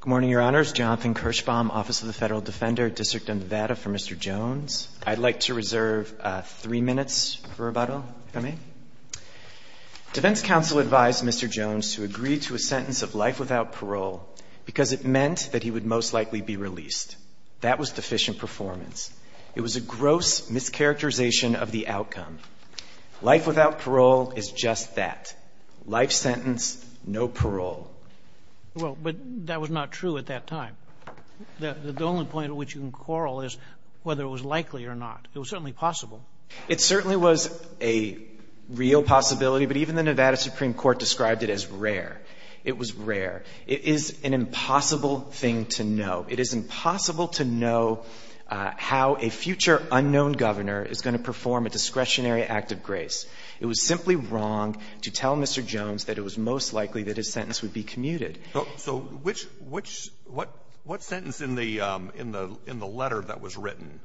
Good morning, Your Honors. Jonathan Kirschbaum, Office of the Federal Defender, District of Nevada, for Mr. Jones. I'd like to reserve three minutes for rebuttal, if I may. Defense counsel advised Mr. Jones to agree to a sentence of life without parole because it meant that he would most likely be released. That was deficient performance. It was a gross mischaracterization of the outcome. Life without parole is just that. Life sentence, no parole. Well, but that was not true at that time. The only point at which you can quarrel is whether it was likely or not. It was certainly possible. It certainly was a real possibility, but even the Nevada Supreme Court described it as rare. It was rare. It is an impossible thing to know. It is impossible to know how a future unknown governor is going to perform a discretionary act of grace. It was simply wrong to tell Mr. Jones that it was most likely that his sentence would be commuted. So which — what sentence in the letter that was written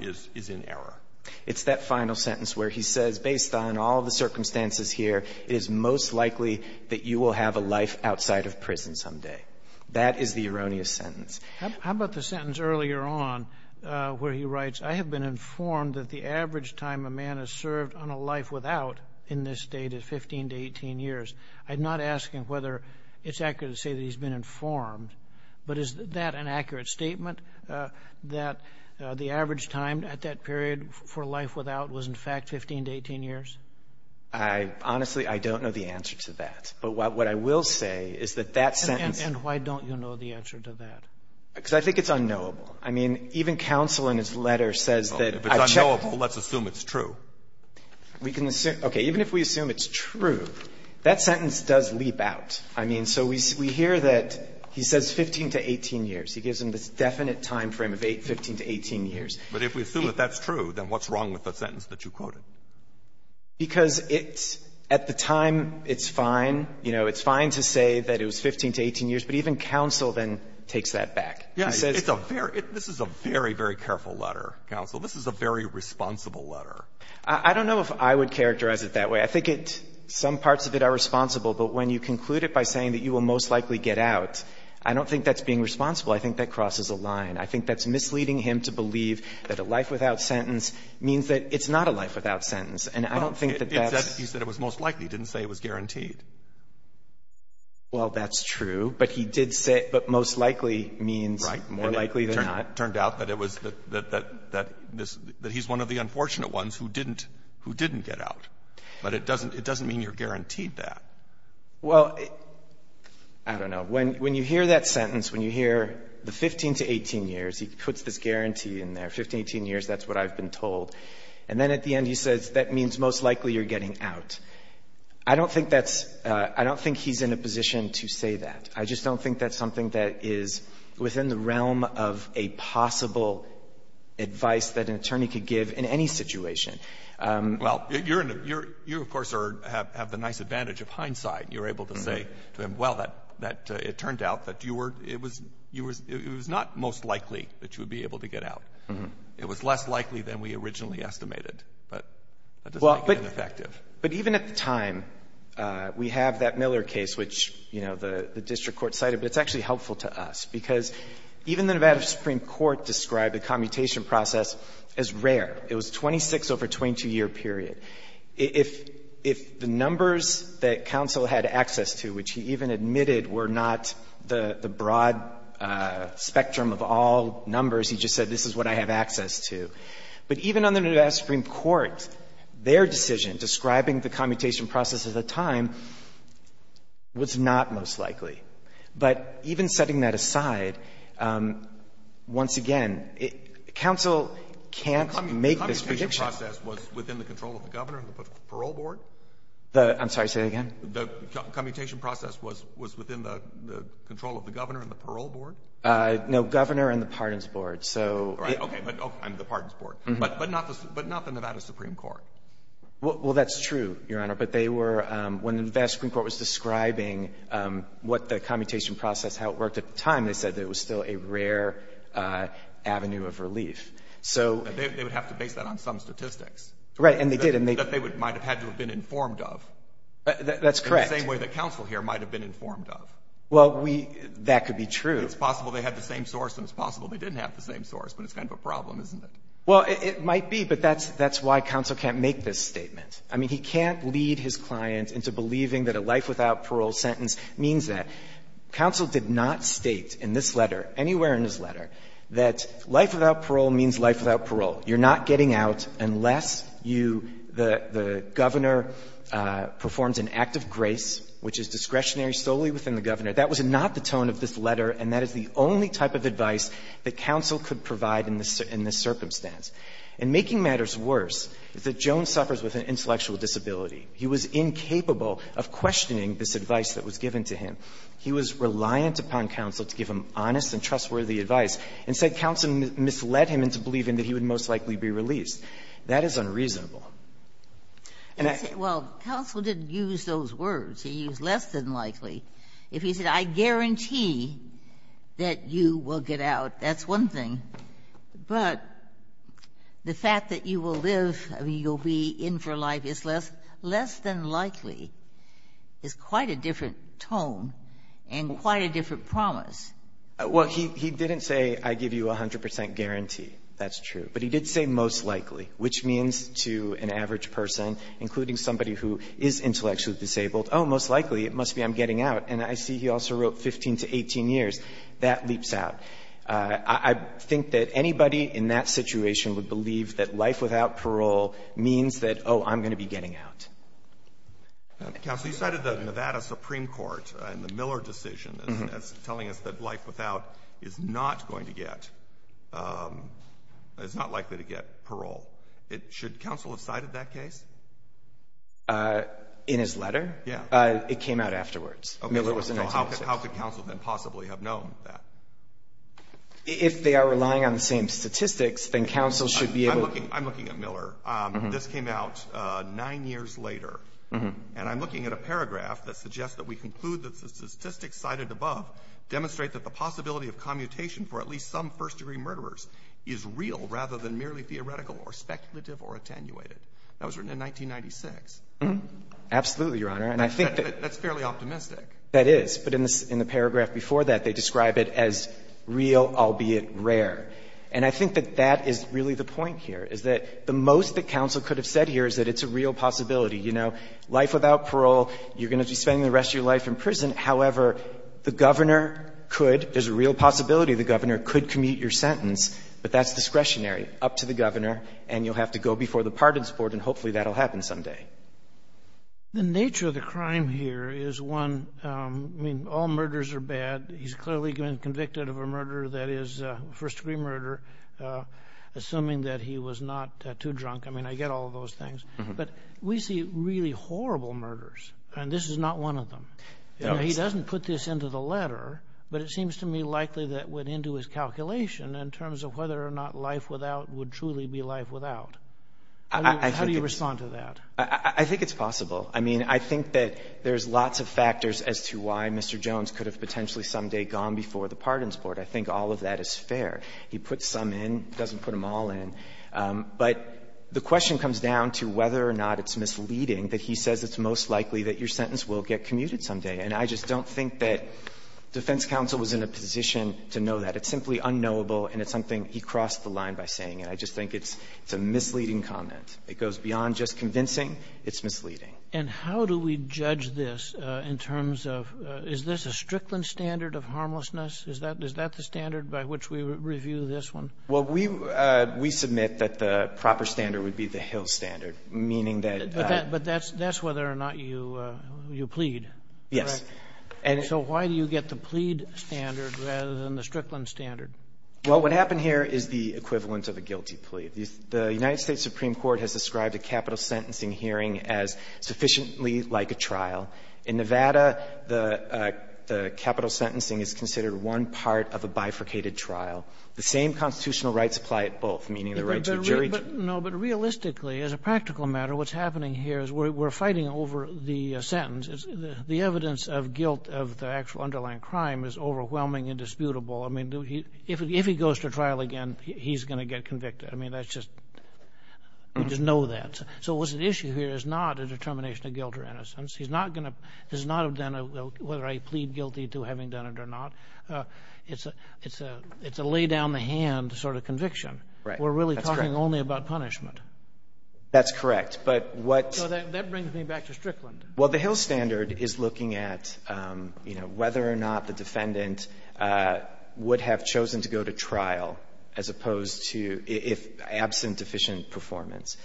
is in error? It's that final sentence where he says, based on all the circumstances here, it is most likely that you will have a life outside of prison someday. That is the erroneous sentence. How about the sentence earlier on where he writes, I have been informed that the average time a man has served on a life without in this state is 15 to 18 years. I'm not asking whether it's accurate to say that he's been informed, but is that an accurate statement, that the average time at that period for a life without was, in fact, 15 to 18 years? Honestly, I don't know the answer to that. But what I will say is that that sentence — And why don't you know the answer to that? Because I think it's unknowable. I mean, even counsel in his letter says that — If it's unknowable, let's assume it's true. We can assume — okay. Even if we assume it's true, that sentence does leap out. I mean, so we hear that he says 15 to 18 years. He gives him this definite time frame of 15 to 18 years. But if we assume that that's true, then what's wrong with the sentence that you quoted? Because it's — at the time, it's fine. You know, it's fine to say that it was 15 to 18 years. But even counsel then takes that back. He says — This is a very, very careful letter, counsel. This is a very responsible letter. I don't know if I would characterize it that way. I think it — some parts of it are responsible. But when you conclude it by saying that you will most likely get out, I don't think that's being responsible. I think that crosses a line. I think that's misleading him to believe that a life without sentence means that it's not a life without sentence. And I don't think that that's — He said it was most likely. He didn't say it was guaranteed. Well, that's true. But he did say it most likely means more likely than not. Right. And it turned out that it was — that he's one of the unfortunate ones who didn't get out. But it doesn't mean you're guaranteed that. Well, I don't know. When you hear that sentence, when you hear the 15 to 18 years, he puts this guarantee in there. 15, 18 years, that's what I've been told. And then at the end, he says that means most likely you're getting out. I don't think that's — I don't think he's in a position to say that. I just don't think that's something that is within the realm of a possible advice that an attorney could give in any situation. Well, you're in a — you, of course, are — have the nice advantage of hindsight. You're able to say to him, well, that — that it turned out that you were — it was — it was not most likely that you would be able to get out. It was less likely than we originally estimated. But that doesn't make it ineffective. But even at the time, we have that Miller case, which, you know, the district court cited, but it's actually helpful to us. Because even the Nevada Supreme Court described the commutation process as rare. It was a 26-over-22-year period. If — if the numbers that counsel had access to, which he even admitted were not the broad spectrum of all numbers, he just said, this is what I have access to. But even on the Nevada Supreme Court, their decision describing the commutation process at the time was not most likely. But even setting that aside, once again, counsel can't make this prediction. The commutation process was within the control of the governor and the parole board? I'm sorry. Say that again. The commutation process was — was within the control of the governor and the parole board? No, governor and the pardons board. So — Right. Okay. But — okay. And the pardons board. But not the — but not the Nevada Supreme Court. Well, that's true, Your Honor. But they were — when the Nevada Supreme Court was describing what the commutation process, how it worked at the time, they said that it was still a rare avenue of relief. So — They would have to base that on some statistics. Right. And they did. And they — That they would — might have had to have been informed of. That's correct. In the same way that counsel here might have been informed of. Well, we — that could be true. It's possible they had the same source and it's possible they didn't have the same source, but it's kind of a problem, isn't it? Well, it might be, but that's — that's why counsel can't make this statement. I mean, he can't lead his client into believing that a life without parole sentence means that. Counsel did not state in this letter, anywhere in this letter, that life without parole means life without parole. You're not getting out unless you — the governor performs an act of grace, which is discretionary solely within the governor. That was not the tone of this letter, and that is the only type of advice that counsel could provide in this circumstance. And making matters worse is that Jones suffers with an intellectual disability. He was incapable of questioning this advice that was given to him. He was reliant upon counsel to give him honest and trustworthy advice, and said counsel misled him into believing that he would most likely be released. That is unreasonable. And I — Well, counsel didn't use those words. He used less than likely. If he said, I guarantee that you will get out, that's one thing. But the fact that you will live, you'll be in for life is less — less than likely is quite a different tone and quite a different promise. Well, he — he didn't say, I give you 100 percent guarantee. That's true. But he did say most likely, which means to an average person, including somebody who is intellectually disabled, oh, most likely, it must be I'm getting out. And I see he also wrote 15 to 18 years. That leaps out. I think that anybody in that situation would believe that life without parole means that, oh, I'm going to be getting out. Counsel, you cited the Nevada Supreme Court and the Miller decision as telling us that life without is not going to get — is not likely to get parole. Should counsel have cited that case? In his letter? Yeah. It came out afterwards. Okay. So how could counsel then possibly have known that? If they are relying on the same statistics, then counsel should be able to — I'm looking at Miller. This came out nine years later. And I'm looking at a paragraph that suggests that we conclude that the statistics cited above demonstrate that the possibility of commutation for at least some first-degree murderers is real rather than merely theoretical or speculative or attenuated. That was written in 1996. Absolutely, Your Honor. And I think that — That's fairly optimistic. That is. But in the paragraph before that, they describe it as real, albeit rare. And I think that that is really the point here, is that the most that counsel could have said here is that it's a real possibility. You know, life without parole, you're going to be spending the rest of your life in prison. However, the governor could — there's a real possibility the governor could commute your sentence, but that's discretionary, up to the governor, and you'll have to go before the pardons board, and hopefully that will happen someday. The nature of the crime here is, one, I mean, all murders are bad. He's clearly been convicted of a murder that is a first-degree murder, assuming that he was not too drunk. I mean, I get all of those things. But we see really horrible murders, and this is not one of them. He doesn't put this into the letter, but it seems to me likely that went into his How do you respond to that? I think it's possible. I mean, I think that there's lots of factors as to why Mr. Jones could have potentially someday gone before the pardons board. I think all of that is fair. He puts some in, doesn't put them all in. But the question comes down to whether or not it's misleading that he says it's most likely that your sentence will get commuted someday. And I just don't think that defense counsel was in a position to know that. It's simply unknowable, and it's something he crossed the line by saying. And I just think it's a misleading comment. It goes beyond just convincing. It's misleading. And how do we judge this in terms of, is this a Strickland standard of harmlessness? Is that the standard by which we review this one? Well, we submit that the proper standard would be the Hill standard, meaning that the But that's whether or not you plead. Yes. And so why do you get the plead standard rather than the Strickland standard? Well, what happened here is the equivalent of a guilty plea. The United States Supreme Court has described a capital sentencing hearing as sufficiently like a trial. In Nevada, the capital sentencing is considered one part of a bifurcated trial. The same constitutional rights apply at both, meaning the right to a jury trial. No, but realistically, as a practical matter, what's happening here is we're fighting over the sentence. The evidence of guilt of the actual underlying crime is overwhelming and disputable. I mean, if he goes to trial again, he's going to get convicted. I mean, that's just, you just know that. So what's at issue here is not a determination of guilt or innocence. He's not going to, does not have done a, whether I plead guilty to having done it or not. It's a lay down the hand sort of conviction. Right. We're really talking only about punishment. That's correct. But what So that brings me back to Strickland. Well, the Hill standard is looking at, you know, whether or not the defendant would have chosen to go to trial as opposed to if absent deficient performance.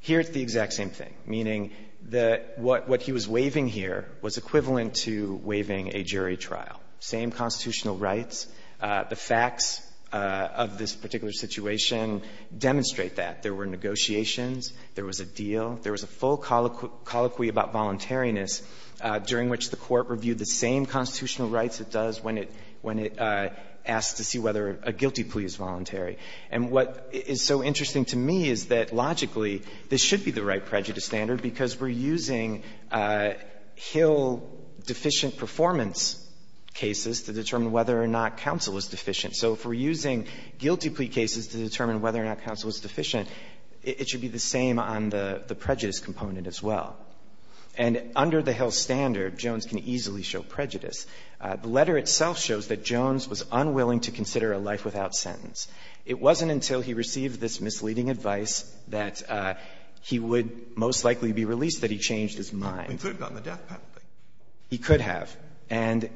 Here it's the exact same thing, meaning that what he was waiving here was equivalent to waiving a jury trial. Same constitutional rights. The facts of this particular situation demonstrate that. There were negotiations. There was a deal. There was a full colloquy about voluntariness during which the Court reviewed the same constitutional rights it does when it asks to see whether a guilty plea is voluntary. And what is so interesting to me is that, logically, this should be the right prejudice standard because we're using Hill deficient performance cases to determine whether or not counsel was deficient. So if we're using guilty plea cases to determine whether or not counsel was deficient, it should be the same on the prejudice component as well. And under the Hill standard, Jones can easily show prejudice. The letter itself shows that Jones was unwilling to consider a life without sentence. It wasn't until he received this misleading advice that he would most likely be released, that he changed his mind. He could have gotten the death penalty. He could have. And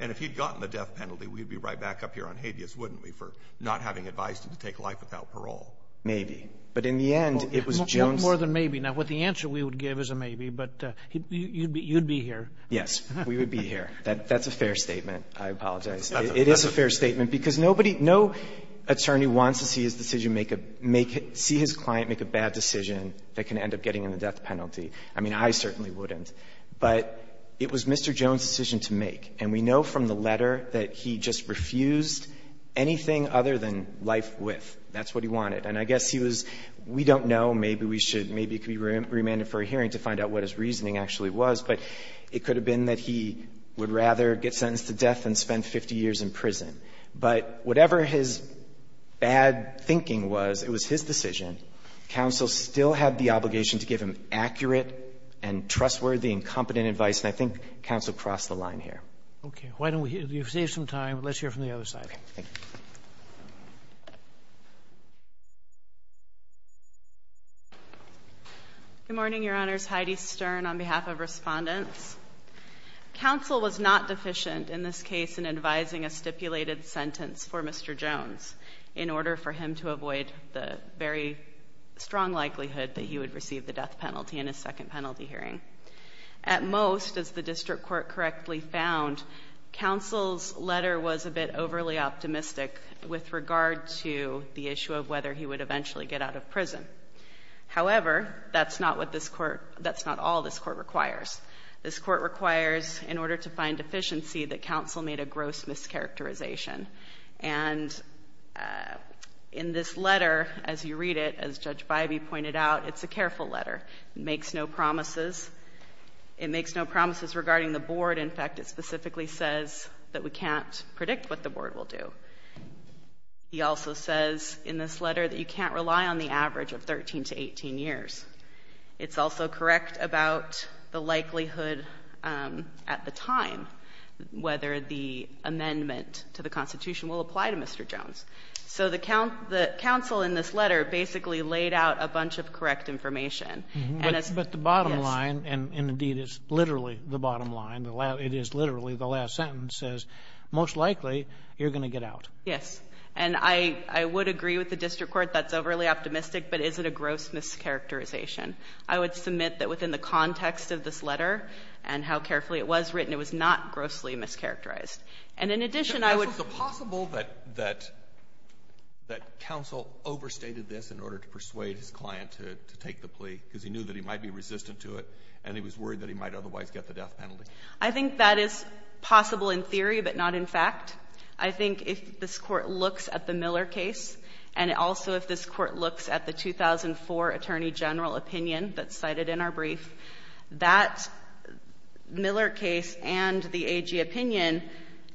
if he'd gotten the death penalty, we'd be right back up here on habeas, wouldn't we, for not having advised him to take life without parole? Maybe. But in the end, it was Jones' ---- Sotomayor, more than maybe. Now, what the answer we would give is a maybe, but you'd be here. Yes. We would be here. That's a fair statement. I apologize. It is a fair statement because nobody no attorney wants to see his decision make a make a see his client make a bad decision that can end up getting him the death penalty. I mean, I certainly wouldn't. But it was Mr. Jones' decision to make. And we know from the letter that he just refused anything other than life with. That's what he wanted. And I guess he was we don't know. Maybe we should be remanded for a hearing to find out what his reasoning actually was. But it could have been that he would rather get sentenced to death than spend 50 years in prison. But whatever his bad thinking was, it was his decision. Counsel still had the obligation to give him accurate and trustworthy and competent advice. And I think counsel crossed the line here. Okay. Why don't we save some time. Let's hear from the other side. Okay. Thank you. Good morning, Your Honors. Heidi Stern on behalf of respondents. Counsel was not deficient in this case in advising a stipulated sentence for Mr. Jones in order for him to avoid the very strong likelihood that he would receive the death penalty in his second penalty hearing. At most, as the district court correctly found, counsel's letter was a bit overly optimistic with regard to the issue of whether he would eventually get out of prison. However, that's not what this court that's not all this court requires. This court requires in order to find deficiency that counsel made a gross mischaracterization. And in this letter, as you read it, as Judge Bybee pointed out, it's a careful letter. It makes no promises. It makes no promises regarding the board. In fact, it specifically says that we can't predict what the board will do. He also says in this letter that you can't rely on the average of 13 to 18 years. It's also correct about the likelihood at the time whether the amendment to the Constitution will apply to Mr. Jones. So the counsel in this letter basically laid out a bunch of correct information. And as the bottom line, and indeed it's literally the bottom line, it is literally the last sentence, says most likely you're going to get out. Yes. And I would agree with the district court that's overly optimistic, but is it a gross mischaracterization? I would submit that within the context of this letter and how carefully it was written, it was not grossly mischaracterized. And in addition, I would ---- So it's possible that counsel overstated this in order to persuade his client to take the plea because he knew that he might be resistant to it and he was worried that he might otherwise get the death penalty? I think that is possible in theory, but not in fact. I think if this Court looks at the Miller case and also if this Court looks at the 2004 Attorney General opinion that's cited in our brief, that Miller case and the AG opinion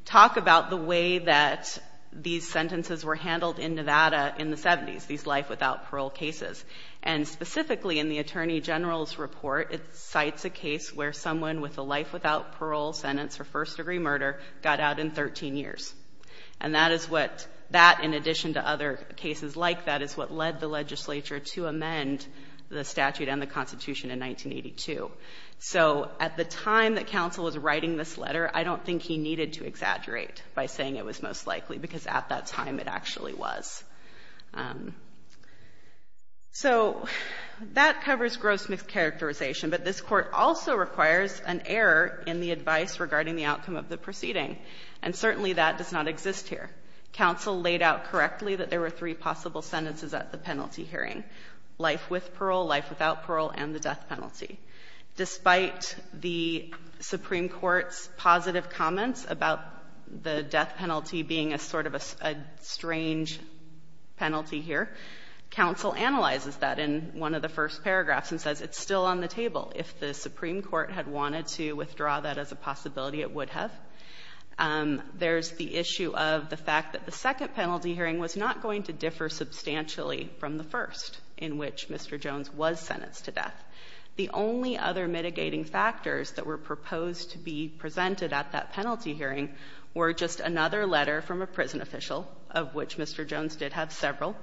talk about the way that these sentences were handled in Nevada in the 70s, these life without parole cases. And specifically in the Attorney General's report, it cites a case where someone with a life without parole sentence for first-degree murder got out in 13 years. And that is what that, in addition to other cases like that, is what led the legislature to amend the statute and the Constitution in 1982. So at the time that counsel was writing this letter, I don't think he needed to exaggerate by saying it was most likely, because at that time it actually was. So that covers gross mischaracterization, but this Court also requires an error in the advice regarding the outcome of the proceeding, and certainly that does not exist here. Counsel laid out correctly that there were three possible sentences at the penalty hearing, life with parole, life without parole, and the death penalty. Despite the Supreme Court's positive comments about the death penalty being a sort of a strange penalty here, counsel analyzes that in one of the first paragraphs and says it's still on the table. If the Supreme Court had wanted to withdraw that as a possibility, it would have. There's the issue of the fact that the second penalty hearing was not going to differ substantially from the first in which Mr. Jones was sentenced to death. The only other mitigating factors that were proposed to be presented at that penalty hearing were just another letter from a prison official, of which Mr. Jones did have several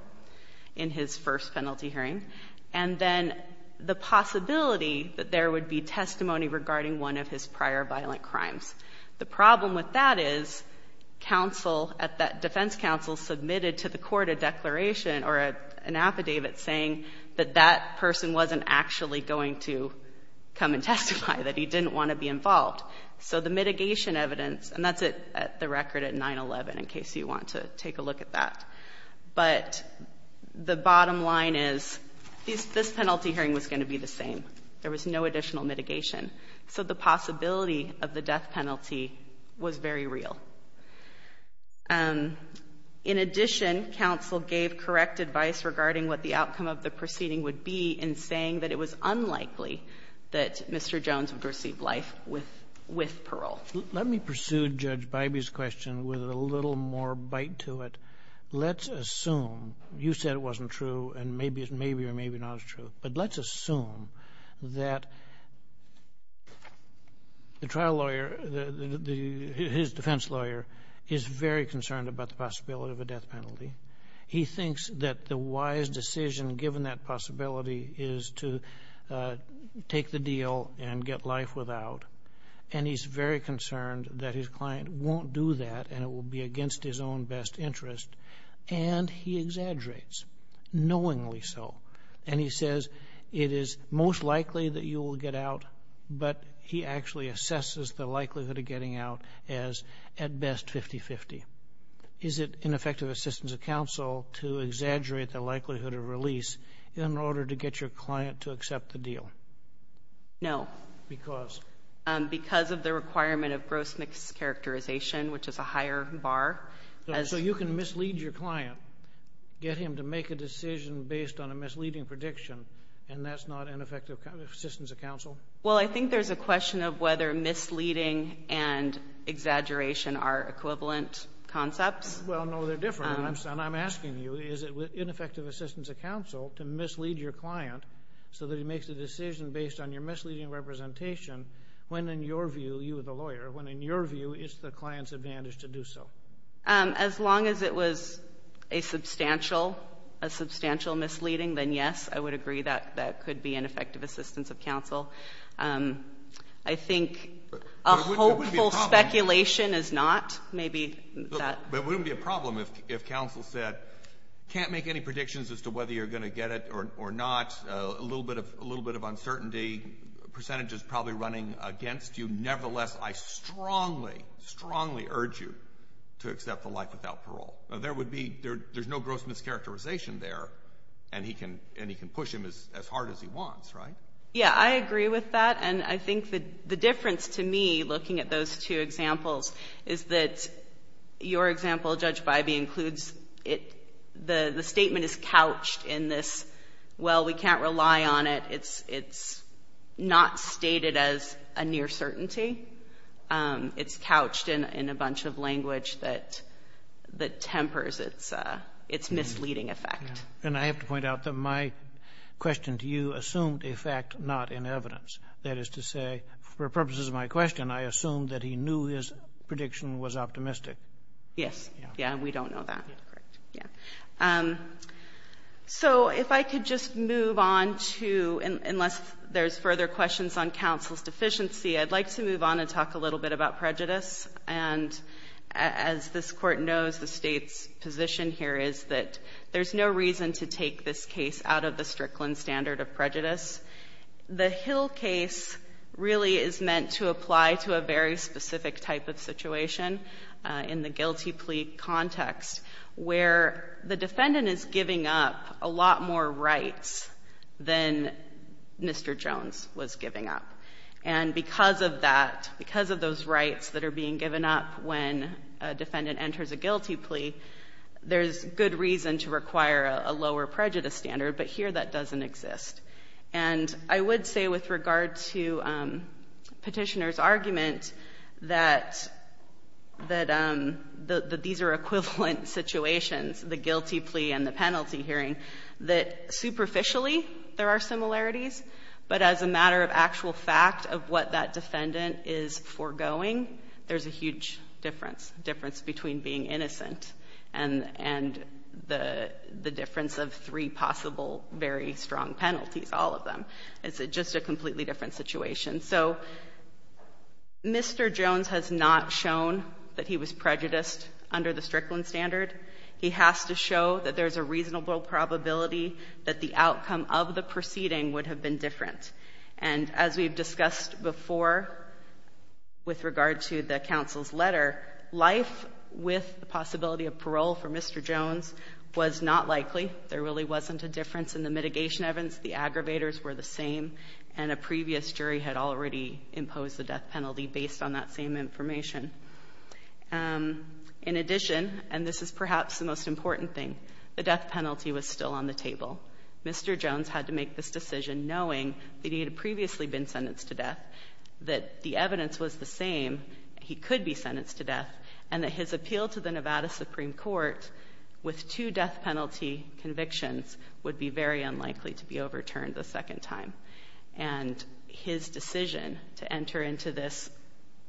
in his first penalty hearing, and then the possibility that there would be testimony regarding one of his prior violent crimes. The problem with that is counsel at that defense counsel submitted to the court a declaration or an affidavit saying that that person wasn't actually going to come and testify, that he didn't want to be involved. So the mitigation evidence, and that's at the record at 9-11 in case you want to take a look at that, but the bottom line is this penalty hearing was going to be the same. There was no additional mitigation. So the possibility of the death penalty was very real. In addition, counsel gave correct advice regarding what the outcome of the proceeding would be in saying that it was unlikely that Mr. Jones would receive life with parole. Let me pursue Judge Bybee's question with a little more bite to it. Let's assume you said it wasn't true, and maybe it's maybe or maybe not as true. But let's assume that the trial lawyer, his defense lawyer, is very concerned about the possibility of a death penalty. He thinks that the wise decision given that possibility is to take the deal and get life without, and he's very concerned that his client won't do that and it will be against his own best interest, and he exaggerates, knowingly so. And he says it is most likely that you will get out, but he actually assesses the likelihood of getting out as, at best, 50-50. Is it ineffective assistance of counsel to exaggerate the likelihood of release in order to get your client to accept the deal? No. Because? Because of the requirement of gross mischaracterization, which is a higher bar. So you can mislead your client, get him to make a decision based on a misleading prediction, and that's not ineffective assistance of counsel? Well, I think there's a question of whether misleading and exaggeration are equivalent concepts. Well, no, they're different. And I'm asking you, is it ineffective assistance of counsel to mislead your client so that he makes a decision based on your misleading representation when, in your view, you, the As long as it was a substantial, a substantial misleading, then yes, I would agree that that could be ineffective assistance of counsel. I think a hopeful speculation is not. Maybe that But it wouldn't be a problem if counsel said, can't make any predictions as to whether you're going to get it or not, a little bit of uncertainty, percentage is probably running against you. Nevertheless, I strongly, strongly urge you to accept the life without parole. There would be, there's no gross mischaracterization there, and he can push him as hard as he wants, right? Yeah, I agree with that. And I think the difference to me, looking at those two examples, is that your example, Judge Bybee, includes, the statement is couched in this, well, we can't rely on it, it's not stated as a near certainty. It's couched in a bunch of language that, that tempers its misleading effect. And I have to point out that my question to you assumed a fact not in evidence. That is to say, for purposes of my question, I assumed that he knew his prediction was optimistic. Yes. Yeah, we don't know that. Correct. Yeah. So if I could just move on to, unless there's further questions on counsel's deficiency, I'd like to move on and talk a little bit about prejudice. And as this Court knows, the State's position here is that there's no reason to take this case out of the Strickland standard of prejudice. The Hill case really is meant to apply to a very specific type of situation in the guilty plea context where the defendant is giving up a lot more rights than Mr. Jones was giving up. And because of that, because of those rights that are being given up when a defendant enters a guilty plea, there's good reason to require a lower prejudice standard. But here that doesn't exist. And I would say with regard to Petitioner's argument that these are equivalent situations, the guilty plea and the penalty hearing, that superficially there are similarities, but as a matter of actual fact of what that defendant is foregoing, there's a huge difference, difference between being innocent and the difference of three possible very strong penalties, all of them. It's just a completely different situation. So Mr. Jones has not shown that he was prejudiced under the Strickland standard. He has to show that there's a reasonable probability that the outcome of the proceeding would have been different. And as we've discussed before with regard to the counsel's letter, life with the possibility of parole for Mr. Jones was not likely. There really wasn't a difference in the mitigation evidence. The aggravators were the same. And a previous jury had already imposed the death penalty based on that same information. In addition, and this is perhaps the most important thing, the death penalty was still on the table. Mr. Jones had to make this decision knowing that he had previously been sentenced to death, that the evidence was the same, he could be sentenced to death, and that his appeal to convictions would be very unlikely to be overturned the second time. And his decision to enter into this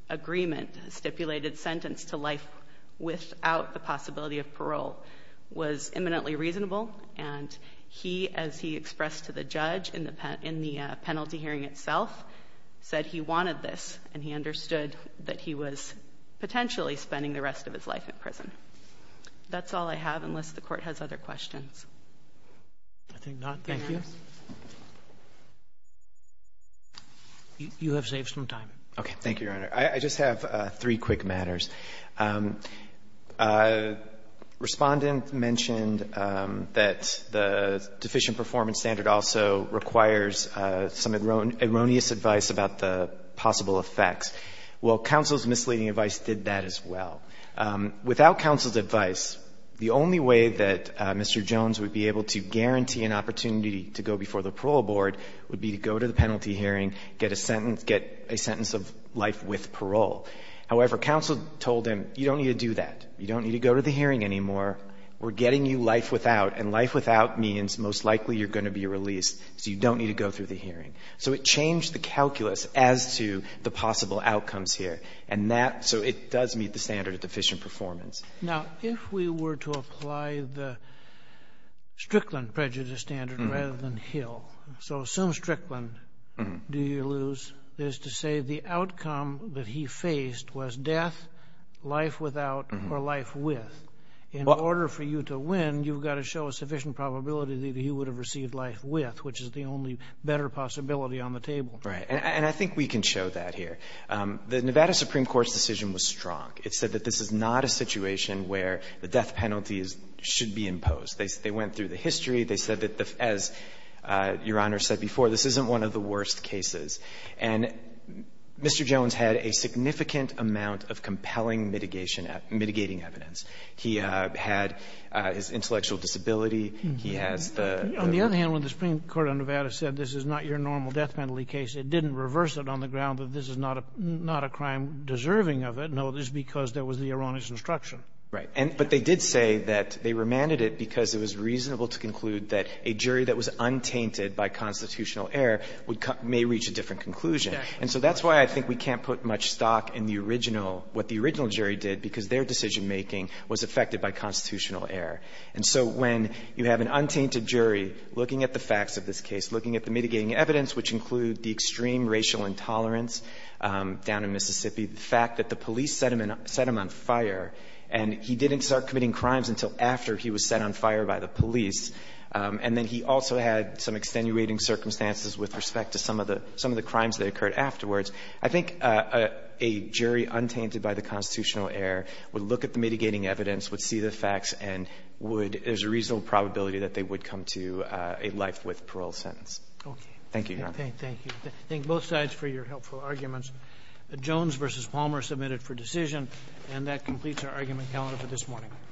agreement, stipulated sentence to life without the possibility of parole, was imminently reasonable. And he, as he expressed to the judge in the penalty hearing itself, said he wanted this and he understood that he was potentially spending the rest of his life in prison. That's all I have, unless the Court has other questions. Roberts. Thank you. You have saved some time. Okay. Thank you, Your Honor. I just have three quick matters. Respondent mentioned that the deficient performance standard also requires some erroneous advice about the possible effects. Well, counsel's misleading advice did that as well. Without counsel's advice, the only way that Mr. Jones would be able to guarantee an opportunity to go before the parole board would be to go to the penalty hearing, get a sentence, get a sentence of life with parole. However, counsel told him, you don't need to do that. You don't need to go to the hearing anymore. We're getting you life without, and life without means most likely you're going to be released, so you don't need to go through the hearing. So it changed the calculus as to the possible outcomes here. And that so it does meet the standard of deficient performance. Now, if we were to apply the Strickland prejudice standard rather than Hill, so assume Strickland, do you lose, is to say the outcome that he faced was death, life without, or life with. In order for you to win, you've got to show a sufficient probability that he would have received life with, which is the only better possibility on the table. Right. And I think we can show that here. The Nevada Supreme Court's decision was strong. It said that this is not a situation where the death penalty is – should be imposed. They went through the history. They said that, as Your Honor said before, this isn't one of the worst cases. And Mr. Jones had a significant amount of compelling mitigation – mitigating evidence. He had his intellectual disability. He has the – On the other hand, when the Supreme Court of Nevada said this is not your normal death penalty case, it didn't reverse it on the ground that this is not a case that's not – not a crime deserving of it. No, it's because there was the erroneous instruction. Right. And – but they did say that they remanded it because it was reasonable to conclude that a jury that was untainted by constitutional error would – may reach a different conclusion. And so that's why I think we can't put much stock in the original – what the original jury did, because their decision-making was affected by constitutional error. And so when you have an untainted jury looking at the facts of this case, looking at the mitigating evidence, which include the extreme racial intolerance down in Mississippi, the fact that the police set him – set him on fire, and he didn't start committing crimes until after he was set on fire by the police, and then he also had some extenuating circumstances with respect to some of the – some of the crimes that occurred afterwards, I think a jury untainted by the constitutional error would look at the mitigating evidence, would see the facts, and would – there's a reasonable probability that they would come to a life-with-parole sentence. Thank you, Your Honor. Thank you. Thank both sides for your helpful arguments. Jones v. Palmer submitted for decision. And that completes our argument calendar for this morning.